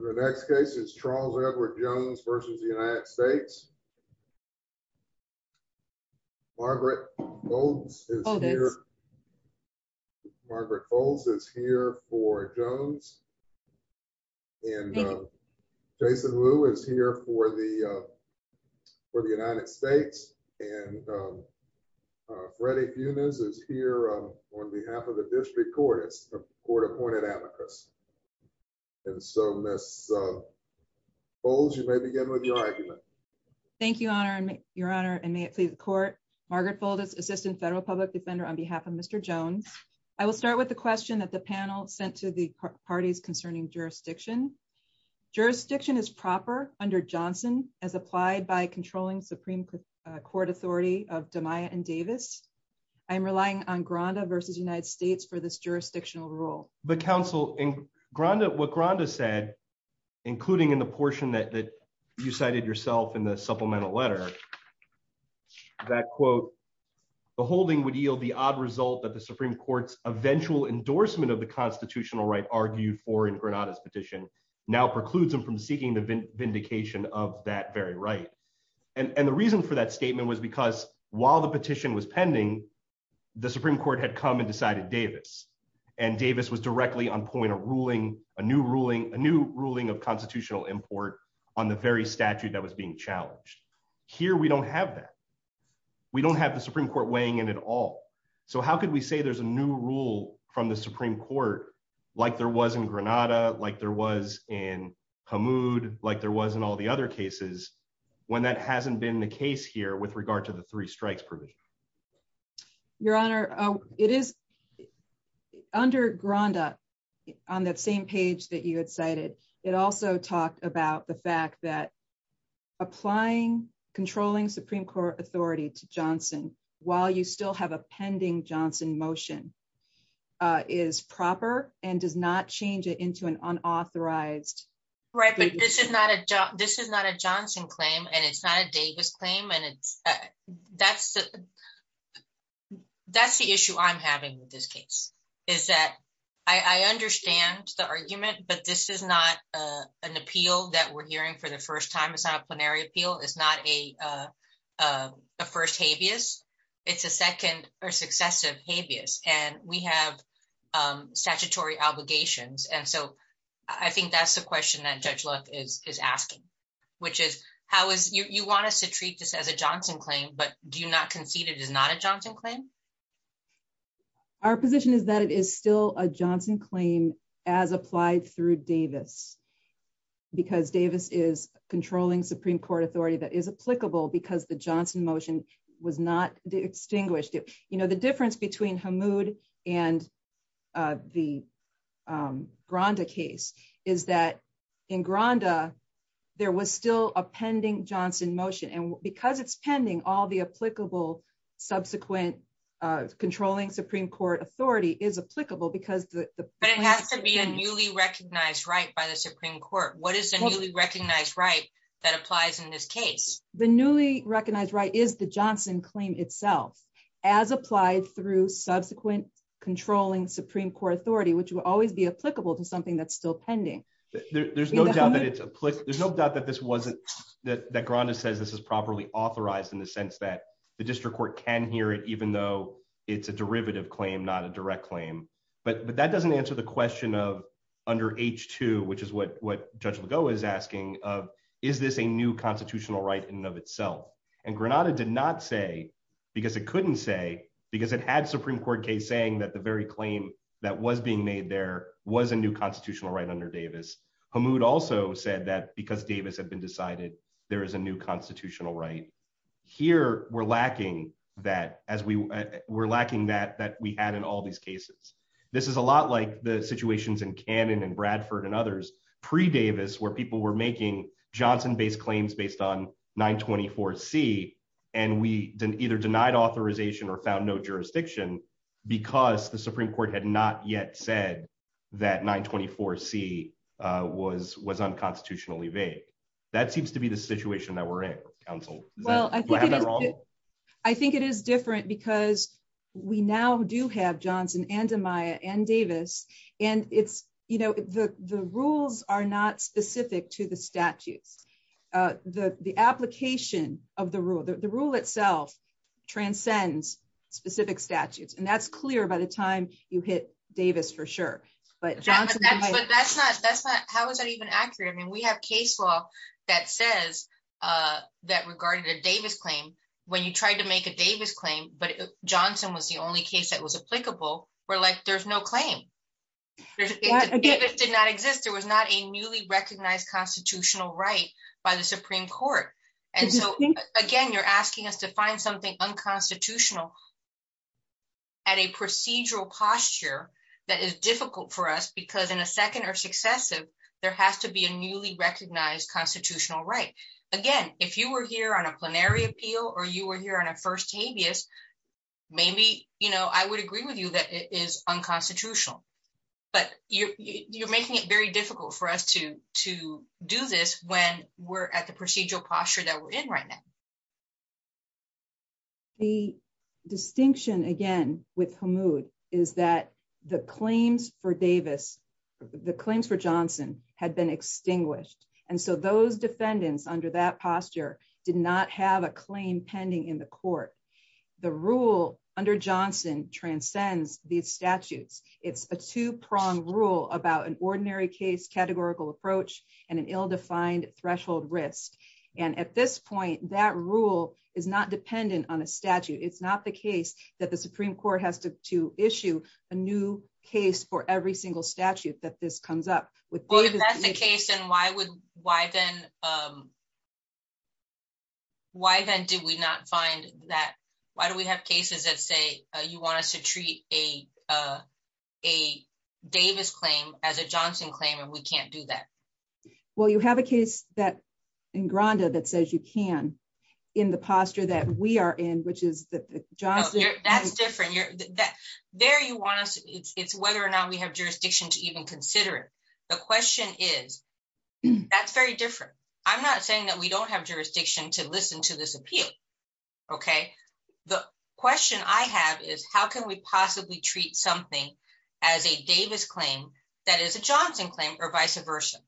The next case is Charles Edward Jones versus the United States. Margaret Molds is here. Margaret Molds is here for Jones. And Jason Wu is here for the for the United States. And Freddie Funes is here on behalf of the district court. It's a court appointed amicus. And so Miss Molds, you may begin with your argument. Thank you, Your Honor, and may it please the court. Margaret Molds, Assistant Federal Public Defender on behalf of Mr. Jones. I will start with the question that the panel sent to the parties concerning jurisdiction. Jurisdiction is proper under Johnson as applied by controlling Supreme Court authority of DeMaya and Davis. I'm relying on what Granda said, including in the portion that you cited yourself in the supplemental letter, that quote, the holding would yield the odd result that the Supreme Court's eventual endorsement of the constitutional right argued for in Granada's petition now precludes him from seeking the vindication of that very right. And the reason for that statement was because while the petition was a new ruling, a new ruling of constitutional import on the very statute that was being challenged, here, we don't have that. We don't have the Supreme Court weighing in at all. So how could we say there's a new rule from the Supreme Court, like there was in Granada, like there was in Hamoud, like there was in all the other cases, when that hasn't been the case here with regard to the three strikes provision? Your Honor, it is under Granda, on that same page that you had cited, it also talked about the fact that applying controlling Supreme Court authority to Johnson, while you still have a pending Johnson motion, is proper and does not change it into an unauthorized. Right, but this is not a job. This is not a Johnson claim. And it's not a Davis claim. And it's that's, that's the issue I'm having with this case, is that I understand the argument, but this is not an appeal that we're hearing for the first time. It's not a plenary appeal. It's not a first habeas. It's a second or successive habeas. And we have statutory obligations. And so I think that's the question that Judge Luck is asking, which is how is, you want us to treat this as a Johnson claim, but do you not concede it is not a Johnson claim? Our position is that it is still a Johnson claim as applied through Davis. Because Davis is controlling Supreme Court authority that is applicable because the Johnson motion was not extinguished. You know, the difference between Hamoud and the Granda case is that in Granda, there was still a pending Johnson motion. And because it's pending, all the applicable subsequent controlling Supreme Court authority is applicable because the But it has to be a newly recognized right by the Supreme Court. What is the newly recognized right that applies in this case, the newly recognized right is the Johnson claim itself, as applied through subsequent controlling Supreme Court authority, which will always be applicable to that's still pending. There's no doubt that it's a click. There's no doubt that this wasn't that that Granda says this is properly authorized in the sense that the district court can hear it, even though it's a derivative claim, not a direct claim. But that doesn't answer the question of under h2, which is what what Judge Lugo is asking of, is this a new constitutional right in and of itself. And Granada did not say, because it couldn't say because it had Supreme Court case that the very claim that was being made there was a new constitutional right under Davis. Hamoud also said that because Davis had been decided, there is a new constitutional right. Here, we're lacking that as we were lacking that that we had in all these cases. This is a lot like the situations in Canon and Bradford and others, pre Davis, where people were making Johnson based on 924 C, and we didn't either denied authorization or found no jurisdiction, because the Supreme Court had not yet said that 924 C was was unconstitutionally vague. That seems to be the situation that we're in Council. Well, I think I think it is different because we now do have Johnson and Amaya and Davis. And it's, you know, the the rules are not specific to the statutes. The the application of the rule, the rule itself transcends specific statutes. And that's clear by the time you hit Davis for sure. But that's not that's not how is that even accurate? I mean, we have case law that says that regarded a Davis claim, when you tried to make a Davis claim, but Johnson was the only case that was applicable. We're like, there's no claim. It did not exist, there was not a newly recognized constitutional right by the Supreme Court. And so, again, you're asking us to find something unconstitutional at a procedural posture that is difficult for us, because in a second or successive, there has to be a newly recognized constitutional right. Again, if you were here on a plenary appeal, or you were here on a first habeas, maybe, you know, I would agree with you that it is unconstitutional. But you're, you're making it very difficult for us to to do this when we're at the procedural posture that we're in right now. The distinction again, with mood is that the claims for Davis, the claims for Johnson had been extinguished. And so those defendants under that posture did not have a claim pending in the court. The rule under Johnson transcends these statutes. It's a two pronged rule about an ordinary case categorical approach, and an ill defined threshold risk. And at this point, that rule is not dependent on a statute. It's not the case that the Supreme Court has to issue a new case for every single statute that this comes up with. Well, if that's the case, then why would why then? Why then did we not find that? Why do we have cases that say you want us to treat a, a Davis claim as a Johnson claim, and we can't do that? Well, you have a case that in Granda that says you can in the posture that we are in, which is the Johnson. That's different. There you want us, it's whether or not we have jurisdiction to even consider it. The question is, that's very different. I'm not saying that we don't have jurisdiction to listen to this appeal. Okay? The question I have is how can we possibly treat something as a Davis claim that is a Johnson claim or vice versa.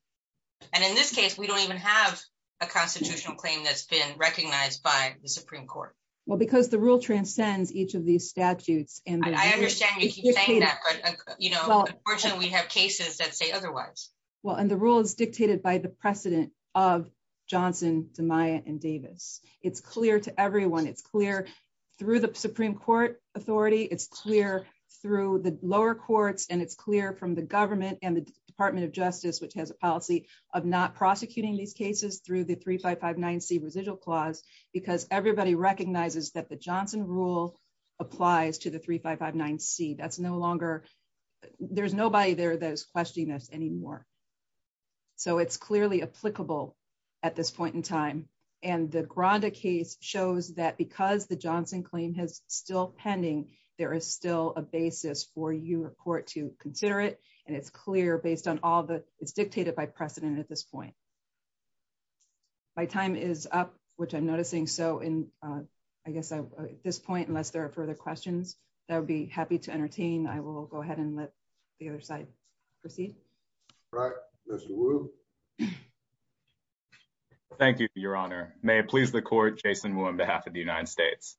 And in this case, we don't even have a constitutional claim that's been recognized by the Supreme Court. Well, because the rule transcends each of these statutes. And I understand you keep saying that, but, you know, unfortunately we have cases that say otherwise. Well, and the rule is dictated by the precedent of Johnson to Maya and Davis. It's clear to everyone. It's clear through the Supreme Court authority. It's clear through the lower courts. And it's clear from the government and the department of justice, which has a policy of not prosecuting these cases through the three, five, five, nine C residual clause, because everybody recognizes that the Johnson rule applies to the three, five, five, nine C. That's no longer, there's nobody there that is questioning us anymore. So it's clearly applicable at this point in time. And the Gronda case shows that because the Johnson claim has still pending, there is still a basis for you or court to consider it. And it's clear based on all the, it's dictated by precedent at this point. My time is up, which I'm noticing. So in, I guess at this point, unless there are further questions, that would be happy to entertain. I will go ahead and let the other side proceed. Right. Mr. Wu. Thank you for your honor. May it please the court, Jason Wu on behalf of the United States.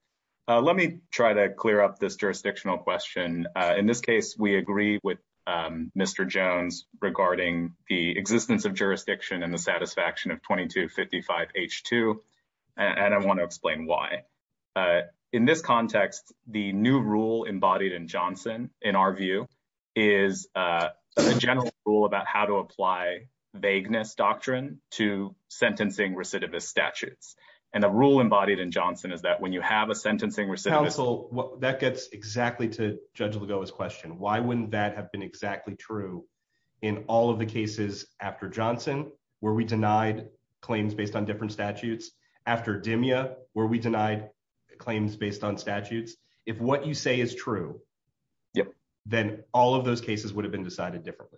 Let me try to clear up this jurisdictional question. In this case, we agree with Mr. Jones regarding the existence of jurisdiction and the satisfaction of 2255 H2. And I want to explain why in this context, the new rule embodied in Johnson, in our view, is a general rule about how to apply vagueness doctrine to sentencing recidivist statutes. And the rule embodied in Johnson is that when you have a sentencing recidivist... Counsel, that gets exactly to Judge Lagoa's question. Why wouldn't that have been exactly true in all of the cases after Johnson, where we denied claims based on different statutes? After Dimya, where we denied claims based on statutes? If what you say is true, then all of those cases would have been decided differently.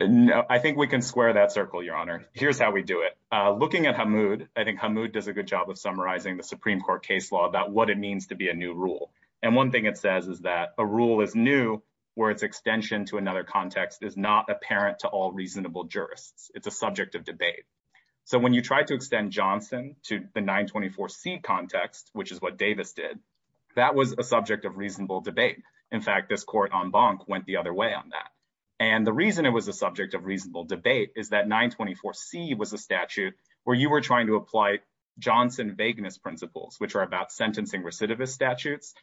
No, I think we can square that circle, your honor. Here's how we do it. Looking at Hamoud, I think Hamoud does a good job of summarizing the Supreme Court case law about it means to be a new rule. And one thing it says is that a rule is new, where its extension to another context is not apparent to all reasonable jurists. It's a subject of debate. So when you try to extend Johnson to the 924C context, which is what Davis did, that was a subject of reasonable debate. In fact, this court on Bonk went the other way on that. And the reason it was a subject of reasonable debate is that 924C was a statute where you were trying to apply Johnson vagueness principles, which are about sentencing recidivist statutes,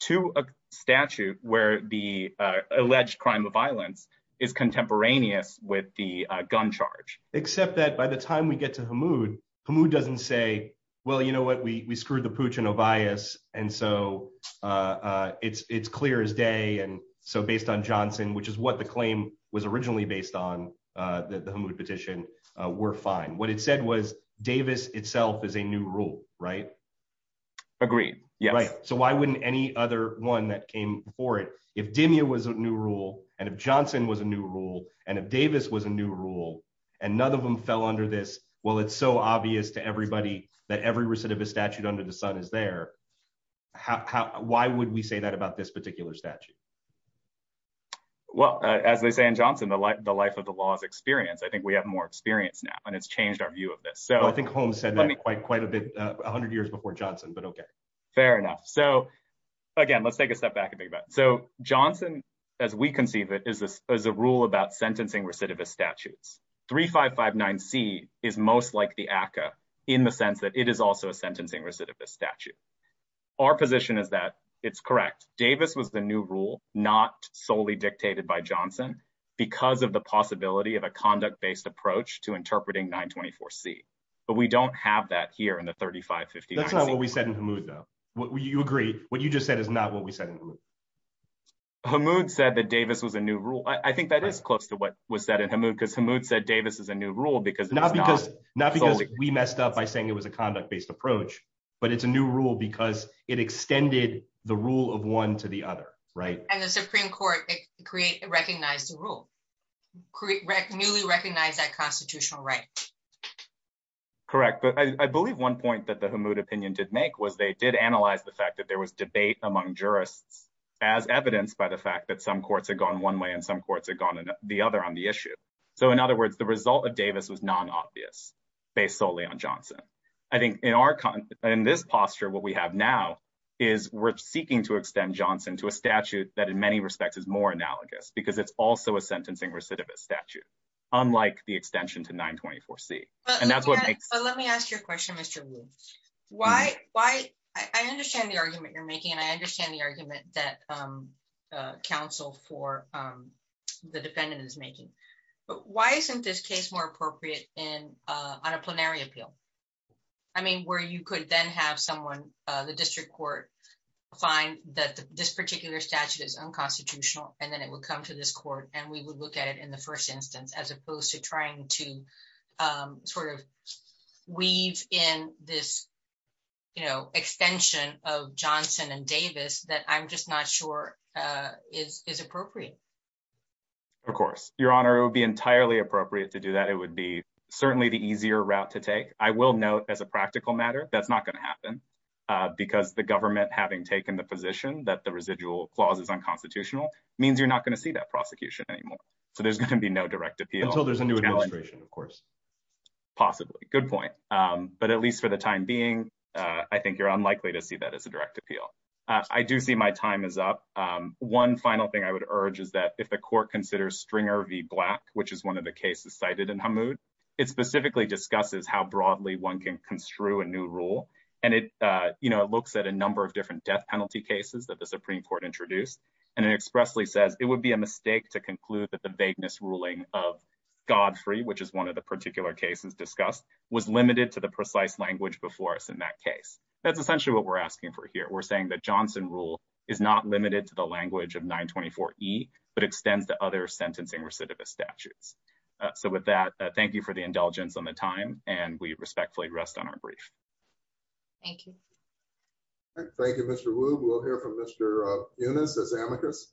to a statute where the alleged crime of violence is contemporaneous with the gun charge. Except that by the time we get to Hamoud, Hamoud doesn't say, well, you know what, we screwed the pooch in Ovias, and so it's clear as day. And so based on Johnson, which is what the claim was originally based on, the Hamoud petition, we're fine. What it said was Davis itself is a new rule, right? Agreed. Yes. So why wouldn't any other one that came before it, if Demia was a new rule, and if Johnson was a new rule, and if Davis was a new rule, and none of them fell under this, well, it's so obvious to everybody that every recidivist statute under the sun is there. Why would we say that about this particular statute? Well, as they say in Johnson, the life of the law is experience. I think we have more experience now, and it's changed our view of this. I think Holmes said that quite a bit, a hundred years before Johnson, but okay. Fair enough. So again, let's take a step back a bit. So Johnson, as we conceive it, is a rule about sentencing recidivist statutes. 3559C is most like the ACCA in the sense that it is also a sentencing recidivist statute. Our position is that it's correct. Davis was the new rule, not solely dictated by Johnson, because of the 924C, but we don't have that here in the 3559C. That's not what we said in Hamoud, though. You agree. What you just said is not what we said in Hamoud. Hamoud said that Davis was a new rule. I think that is close to what was said in Hamoud, because Hamoud said Davis is a new rule because it's not- Not because we messed up by saying it was a conduct-based approach, but it's a new rule because it extended the rule of one to the other, right? The Supreme Court recognized the rule, newly recognized that constitutional right. Correct, but I believe one point that the Hamoud opinion did make was they did analyze the fact that there was debate among jurists as evidenced by the fact that some courts had gone one way and some courts had gone the other on the issue. So in other words, the result of Davis was non-obvious based solely on Johnson. I think in this posture, what we have now is we're seeking to extend Johnson to a statute that in many respects is more analogous because it's also a sentencing recidivist statute, unlike the extension to 924C. And that's what makes- But let me ask you a question, Mr. Wu. I understand the argument you're making and I understand the argument that counsel for the defendant is making, but why isn't this case more appropriate on a plenary appeal? I mean, where you could then have someone, the district court find that this particular statute is unconstitutional and then it would come to this court and we would look at it in the first instance, as opposed to trying to sort of weave in this extension of Johnson and Davis that I'm just not sure is appropriate. Of course, Your Honor, it would be entirely appropriate to do that. It would be certainly the easier route to take. I will note as a practical matter, that's not going to happen because the government having taken the position that the residual clause is unconstitutional means you're not going to see that prosecution anymore. So there's going to be no direct appeal- Until there's a new administration, of course. Possibly. Good point. But at least for the time being, I think you're unlikely to see that as a direct appeal. I do see my time is up. One final thing I would urge is that if the court considers Stringer v. Black, which is one of the cases cited in Hamoud, it specifically discusses how broadly one can construe a new rule. And it looks at a number of different death penalty cases that the Supreme Court introduced, and it expressly says it would be a mistake to conclude that the vagueness ruling of Godfrey, which is one of the particular cases discussed, was limited to the precise language before us in that case. That's essentially what we're asking for here. We're saying that Johnson rule is not limited to the language of 924E, but extends to other sentencing recidivist statutes. So with that, thank you for the indulgence on the time, and we respectfully rest on our brief. Thank you. Thank you, Mr. Wu. We'll hear from Mr. Funes as amicus.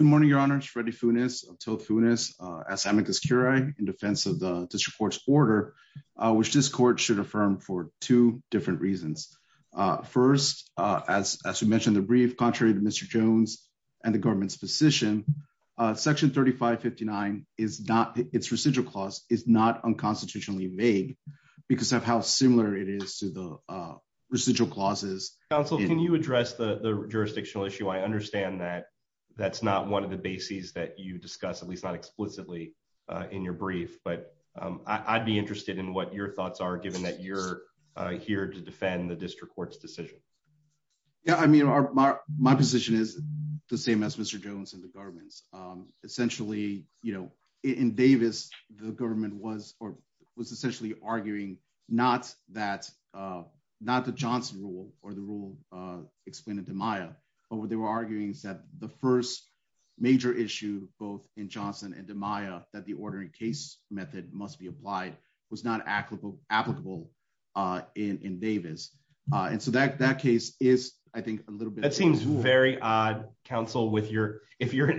Good morning, Your Honor. It's Freddy Funes of Till Funes as amicus curiae in defense of the district court's order, which this court should affirm for two different reasons. First, as we mentioned in the brief, contrary to Mr. Jones and the government's position, Section 3559, its residual clause, is not unconstitutionally made because of how similar it is to the residual clauses. Counsel, can you address the jurisdictional issue? I understand that that's not one of the bases that you discuss, at least not explicitly in your brief, but I'd be interested in what your thoughts are, given that you're here to defend the district court's Yeah, I mean, my position is the same as Mr. Jones and the government's. Essentially, you know, in Davis, the government was or was essentially arguing not that, not the Johnson rule, or the rule explained in DiMaia, but what they were arguing is that the first major issue, both in Johnson and DiMaia, that the ordering case method must be applied was not applicable in Davis. And so that case is, I think, a little bit... That seems very odd, Counsel, if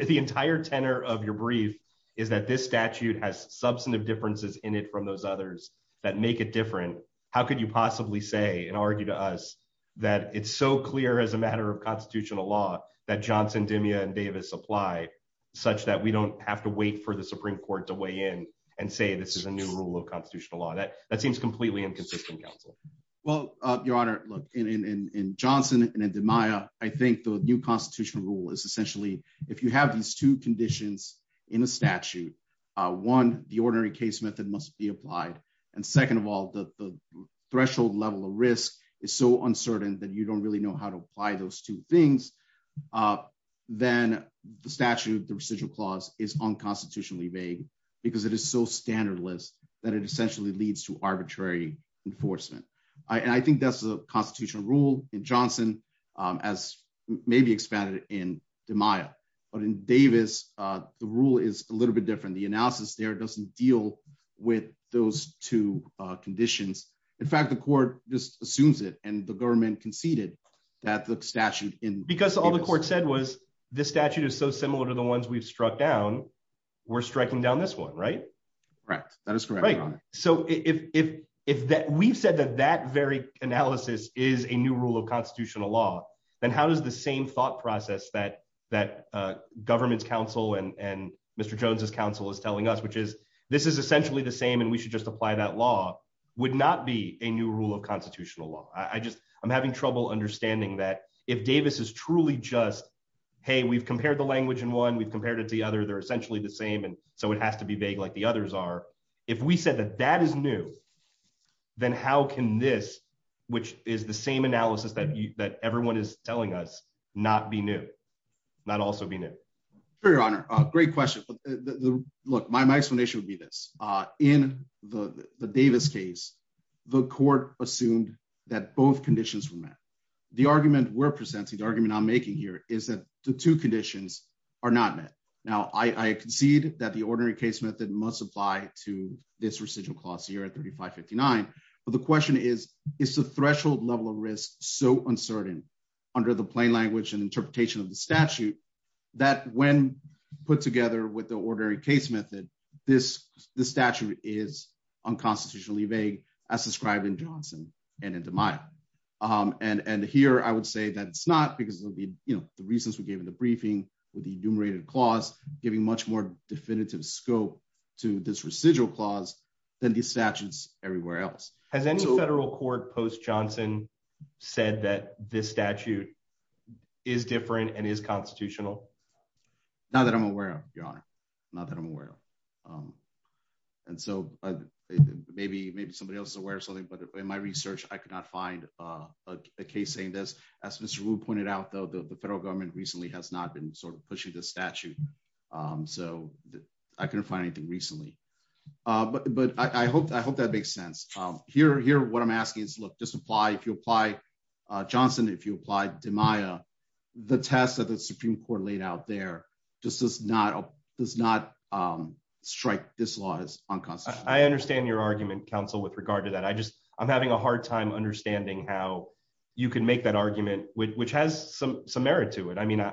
the entire tenor of your brief is that this statute has substantive differences in it from those others that make it different, how could you possibly say and argue to us that it's so clear as a matter of constitutional law that Johnson, DiMaia, and Davis apply, such that we don't have to wait for the Supreme Court to weigh in and say this is a new rule of constitutional law? That seems completely inconsistent, Counsel. Well, Your Honor, look, in Johnson and in DiMaia, I think the new constitutional rule is essentially, if you have these two conditions in a statute, one, the ordering case method must be applied. And second of all, the threshold level of risk is so uncertain that you don't really know how to apply those two things. Then the statute, the residual clause is unconstitutionally vague, because it is so standard list that it essentially leads to arbitrary enforcement. And I think that's the constitutional rule in Johnson, as maybe expanded in DiMaia. But in Davis, the rule is a little bit different. The analysis there doesn't deal with those two conditions. In fact, the court just assumes it and the government conceded that the statute in... Because all the court said was this statute is so similar to the ones we've struck down, we're striking down this one, right? That is correct. So if we've said that that very analysis is a new rule of constitutional law, then how does the same thought process that government's counsel and Mr. Jones's counsel is telling us, which is, this is essentially the same and we should just apply that law, would not be a new rule of constitutional law. I'm having trouble understanding that if Davis is truly just, hey, we've compared the language in one, we've compared it to the other, they're essentially the same. And so it has to be vague like the others are. If we said that that is new, then how can this, which is the same analysis that everyone is telling us, not be new, not also be new? Sure, Your Honor. Great question. Look, my explanation would be this. In the Davis case, the court assumed that both conditions were met. The argument we're I concede that the ordinary case method must apply to this residual clause here at 3559. But the question is, is the threshold level of risk so uncertain under the plain language and interpretation of the statute that when put together with the ordinary case method, this statute is unconstitutionally vague as described in Johnson and in DeMaio. And here, I would say that it's not because of the reasons we gave in the briefing with the enumerated clause giving much more definitive scope to this residual clause than these statutes everywhere else. Has any federal court post Johnson said that this statute is different and is constitutional? Not that I'm aware of, Your Honor. Not that I'm aware of. And so maybe somebody else is aware of something. But in my research, I could not find a case saying this. As Mr. Wu pointed out, though, the federal government recently has not been sort of pushing the statute. So I couldn't find anything recently. But I hope that makes sense. Here, what I'm asking is, look, just apply, if you apply Johnson, if you apply DeMaio, the test that the Supreme Court laid out there just does not strike this law as unconstitutional. I understand your argument, counsel, with regard to that. I just I'm having a hard time understanding how you can make that argument, which has some merit to it. I mean,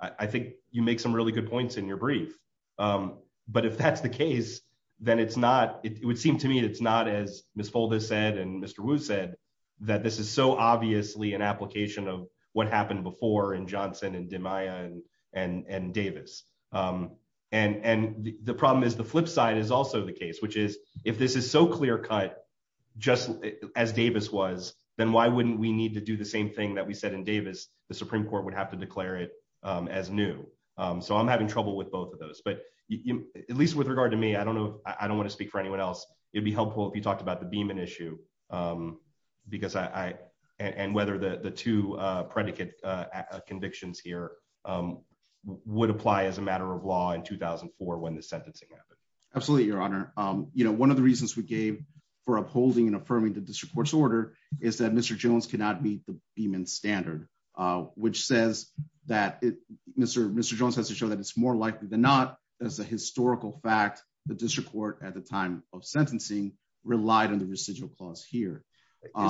I think you make some really good points in your brief. But if that's the case, then it's not it would seem to me it's not as Ms. Foldis said and Mr. Wu said that this is so obviously an application of what happened before in Johnson and DeMaio and Davis. And the problem is the flip side is also the case, which is if this is so clear cut, just as Davis was, then why wouldn't we need to do the same thing that we said in Davis, the Supreme Court would have to declare it as new. So I'm having trouble with both of those. But at least with regard to me, I don't know. I don't want to speak for anyone else. It'd be helpful if you talked about the Beeman issue, because I and whether the two predicate convictions here would apply as a matter of law in 2004 when the sentencing happened. Absolutely, Your Honor. One of the reasons we gave for upholding and affirming the district court's order is that Mr. Jones cannot meet the Beeman standard, which says that Mr. Jones has to show that it's more likely than not as a historical fact, the district court at the time of sentencing relied on the residual clause here.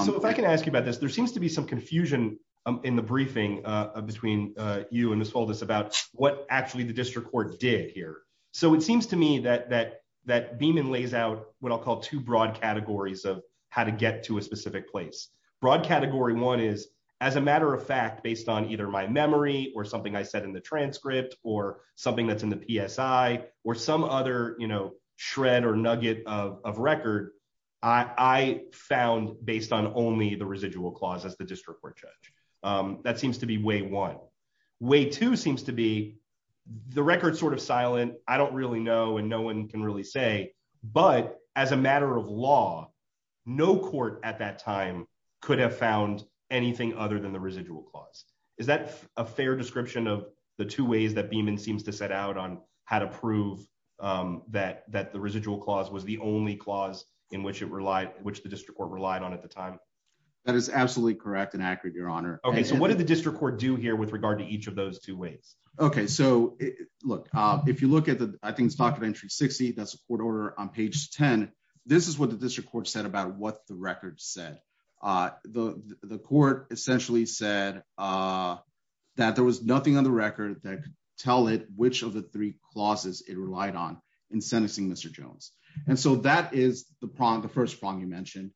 So if I can ask you about this, there seems to be some confusion in the briefing between you and Ms. Foldis about what actually the district court did here. So it seems to me that Beeman lays out what I'll call two broad categories of how to get to a specific place. Broad category one is, as a matter of fact, based on either my memory or something I said in the transcript or something that's in the PSI or some other, you know, shred or nugget of record, I found based on only the residual clause as the district court judge. That seems to be way one. Way two seems to be the record sort of silent. I don't really know and no one can really say, but as a matter of law, no court at that time could have found anything other than the residual clause. Is that a fair description of the two ways that Beeman seems to set out on how to prove that the residual clause was the only clause in which it relied, which the Okay. So what did the district court do here with regard to each of those two ways? Okay. So look, if you look at the, I think it's talk of entry 60, that's the court order on page 10. This is what the district court said about what the record said. The court essentially said that there was nothing on the record that could tell it which of the three clauses it relied on in sentencing Mr. Jones. And so that is the problem, the first problem you mentioned.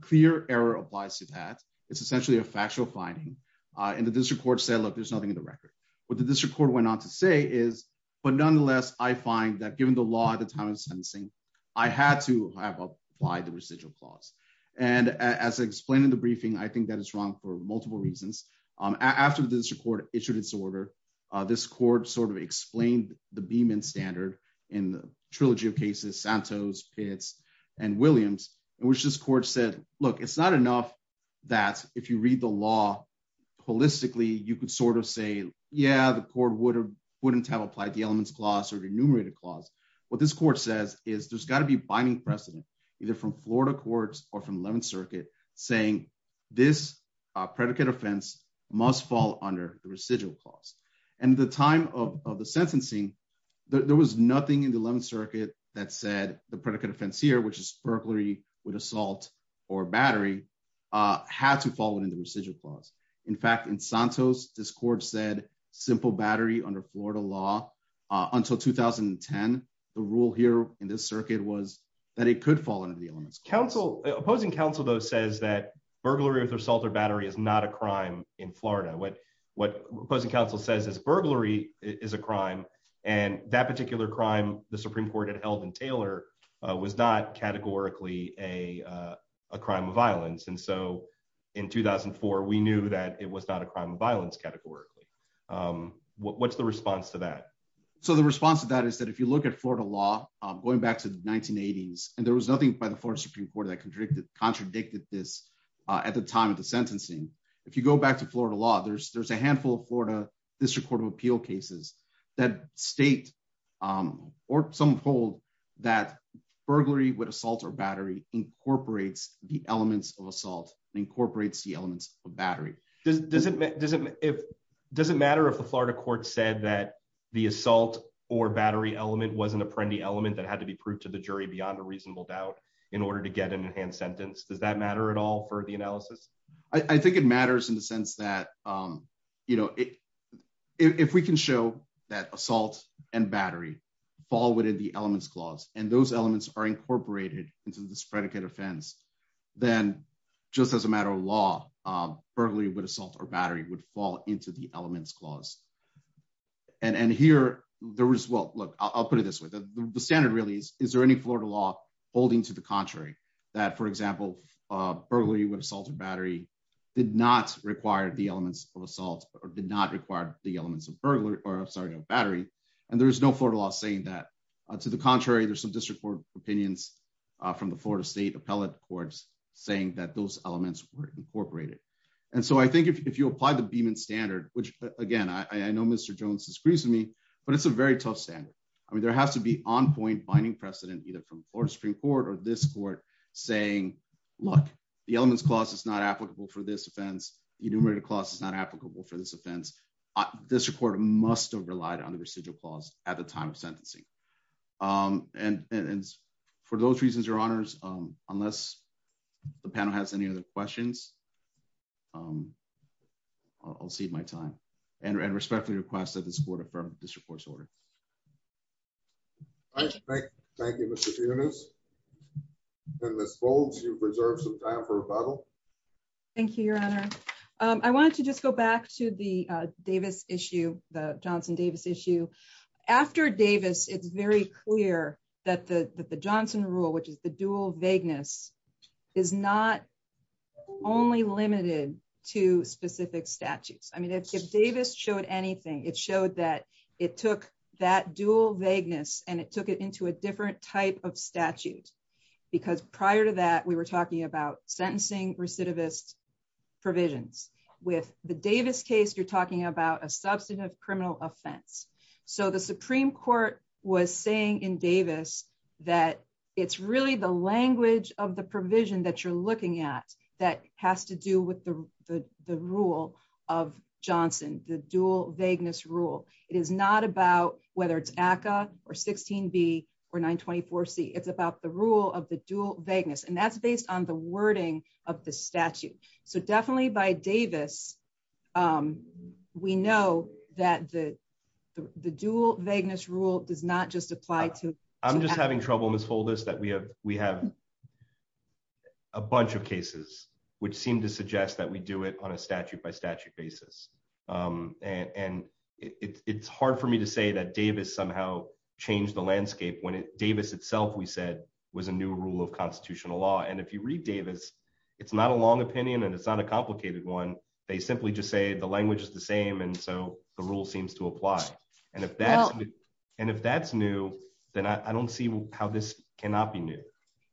Clear error applies to that. It's essentially a factual finding. And the district court said, look, there's nothing in the record. What the district court went on to say is, but nonetheless, I find that given the law at the time of sentencing, I had to have applied the residual clause. And as I explained in the briefing, I think that is wrong for multiple reasons. After the district court issued its order, this court sort of explained the Beeman standard in the look, it's not enough that if you read the law holistically, you could sort of say, yeah, the court wouldn't have applied the elements clause or the enumerated clause. What this court says is there's got to be binding precedent either from Florida courts or from 11th circuit saying this predicate offense must fall under the residual clause. And the time of the sentencing, there was nothing in the 11th circuit that said the predicate offense here, which is assault or battery had to fall into the residual clause. In fact, in Santos, this court said simple battery under Florida law until 2010, the rule here in this circuit was that it could fall under the elements. Opposing counsel though says that burglary with assault or battery is not a crime in Florida. What opposing counsel says is burglary is a crime. And that particular crime, the Supreme Court had held in Taylor was not categorically a crime of violence. And so in 2004, we knew that it was not a crime of violence categorically. What's the response to that? So the response to that is that if you look at Florida law going back to the 1980s, and there was nothing by the Florida Supreme Court that contradicted this at the time of the sentencing. If you go back to Florida law, there's a handful of Florida district court of appeal cases that state or some hold that burglary with assault or battery incorporates the elements of assault and incorporates the elements of battery. Does it matter if the Florida court said that the assault or battery element was an apprendi element that had to be proved to the jury beyond a reasonable doubt in order to get an enhanced sentence? Does that matter at all for the battery fall within the elements clause, and those elements are incorporated into this predicate offense, then just as a matter of law, burglary with assault or battery would fall into the elements clause. And here, there was well, look, I'll put it this way. The standard really is, is there any Florida law holding to the contrary, that for example, burglary with assault or battery did not require the elements of assault or did not require the elements of burglary, or I'm sorry, battery. And there's no Florida law saying that to the contrary, there's some district court opinions from the Florida state appellate courts saying that those elements were incorporated. And so I think if you apply the Beeman standard, which again, I know Mr. Jones disagrees with me, but it's a very tough standard. I mean, there has to be on point binding precedent, either from Florida Supreme court or this court saying, look, the elements clause is not applicable for this offense. Enumerator clause is not applicable for this offense. This report must have relied on the residual clause at the time of sentencing. And, and for those reasons, your honors, unless the panel has any other questions, I'll save my time and respectfully request that this board affirm this report's order. Thank you. Thank you. I want to just go back to the Davis issue, the Johnson Davis issue after Davis, it's very clear that the Johnson rule, which is the dual vagueness is not only limited to specific statutes. I mean, if Davis showed anything, it showed that it took that dual vagueness and it took it into a different type of statute, because prior to that, we were talking about sentencing recidivist provisions with the Davis case, you're talking about a substantive criminal offense. So the Supreme court was saying in Davis that it's really the language of the provision that you're looking at, that has to do with the, the, the rule of Johnson, the dual vagueness rule. It is not about whether it's ACA or 16 B or nine 24 C it's about the rule of the dual vagueness. And that's based on the wording of the statute. So definitely by Davis we know that the, the dual vagueness rule does not just apply to, I'm just having trouble in this whole list that we have, we have a bunch of cases which seem to suggest that we do it on a statute by statute basis. And it's hard for me to say that Davis somehow changed the landscape when Davis itself, we said was a new rule of constitutional law. And if you read Davis, it's not a long opinion and it's not a complicated one. They simply just say the language is the same. And so the rule seems to apply. And if that's, and if that's new, then I don't see how this cannot be new.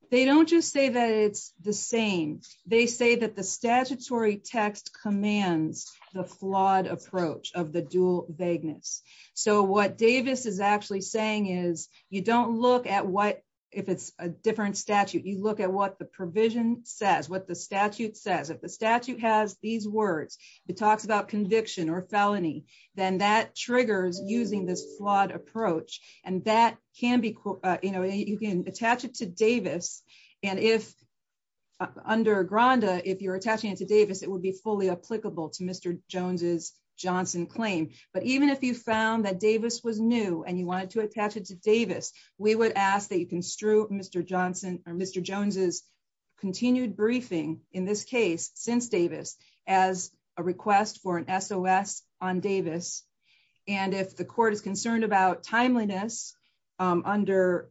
They don't just say that it's the same. They say that the statutory text commands the flawed approach of the dual vagueness. So what Davis is actually saying is you don't look at what, if it's a different statute, you look at what the provision says, what the statute says, if the statute has these words, it talks about conviction or felony, then that triggers using this flawed approach. And that can be, you can attach it to Davis. And if under Granda, if you're attaching it to Davis, it would be fully applicable to Mr. Jones's Johnson claim. But even if you found that Davis was new and you wanted to attach it to Davis, we would ask that you construe Mr. Johnson or Mr. Jones's continued briefing in this case, since Davis as a request for an SOS on Davis. And if the court is concerned about timeliness under...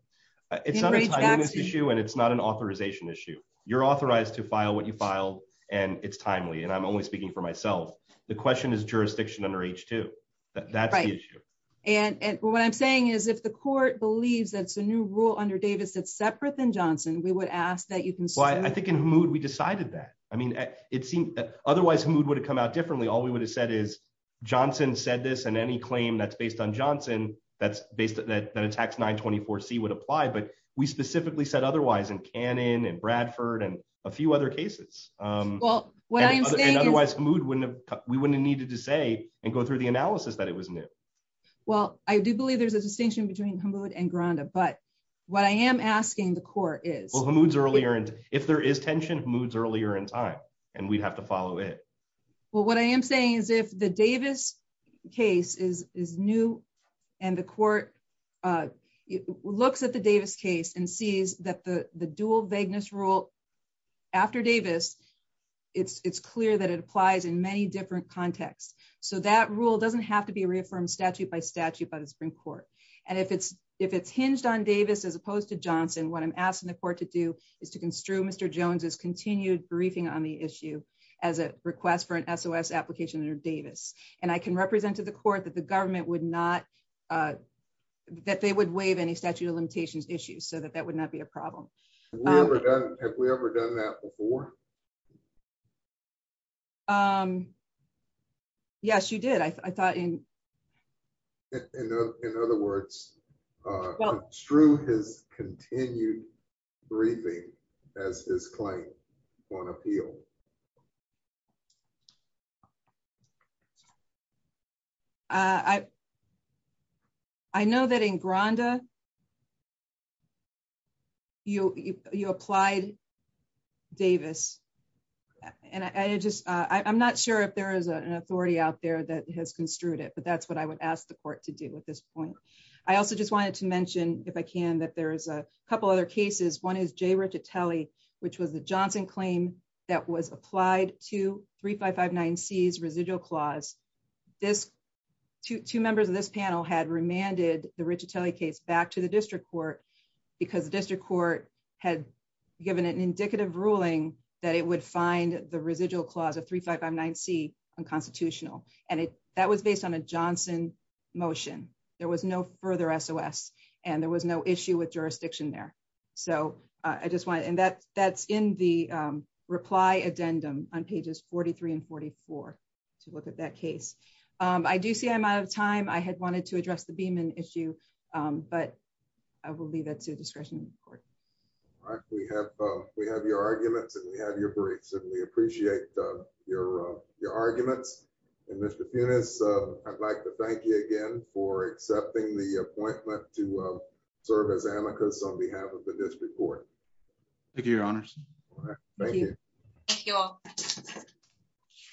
It's not a timeliness issue and it's not an authorization issue. You're authorized to file what you file and it's timely. And I'm only speaking for myself. The question is jurisdiction under H2. That's the issue. And what I'm saying is if the court believes that it's a new rule under Davis, that's separate than Johnson, we would ask that you construe... I think in HMUD we decided that. I mean, it seemed otherwise HMUD would have come out differently. All we would have is Johnson said this and any claim that's based on Johnson that attacks 924C would apply, but we specifically said otherwise in Cannon and Bradford and a few other cases. And otherwise HMUD wouldn't have... We wouldn't have needed to say and go through the analysis that it was new. Well, I do believe there's a distinction between HMUD and Granda, but what I am asking the court is... Well, HMUD's earlier. And if there is tension, HMUD's earlier in time and we'd have to follow it. Well, what I am saying is if the Davis case is new and the court looks at the Davis case and sees that the dual vagueness rule after Davis, it's clear that it applies in many different contexts. So that rule doesn't have to be reaffirmed statute by statute by the Supreme Court. And if it's hinged on Davis, as opposed to Johnson, what I'm asking the court to do is to construe Mr. Jones's continued briefing on the issue as a request for an SOS application under Davis. And I can represent to the court that the government would not... That they would waive any statute of limitations issues so that that would not be a problem. Have we ever done that before? Yes, you did. I thought in... In other words, construe his continued briefing as his claim on appeal. I know that in Granda, you applied Davis and I just... I'm not sure if there is an authority out there that has construed it, but that's what I would ask the court to do at this point. I also just wanted to mention, if I can, that there is a couple other cases. One is J. Riccitelli, which was the Johnson claim that was applied to 3559C's residual clause. Two members of this panel had remanded the Riccitelli case back to the district court because the district court had given an indicative ruling that it would find the residual clause of and that was based on a Johnson motion. There was no further SOS and there was no issue with jurisdiction there. So I just wanted... And that's in the reply addendum on pages 43 and 44 to look at that case. I do see I'm out of time. I had wanted to address the Beeman issue, but I will leave that to discretion of the court. All right. We have your arguments and we have your briefs and we appreciate your arguments. And Mr. Funes, I'd like to thank you again for accepting the appointment to serve as amicus on behalf of the district court. Thank you, your honors. Thank you. Thank you all.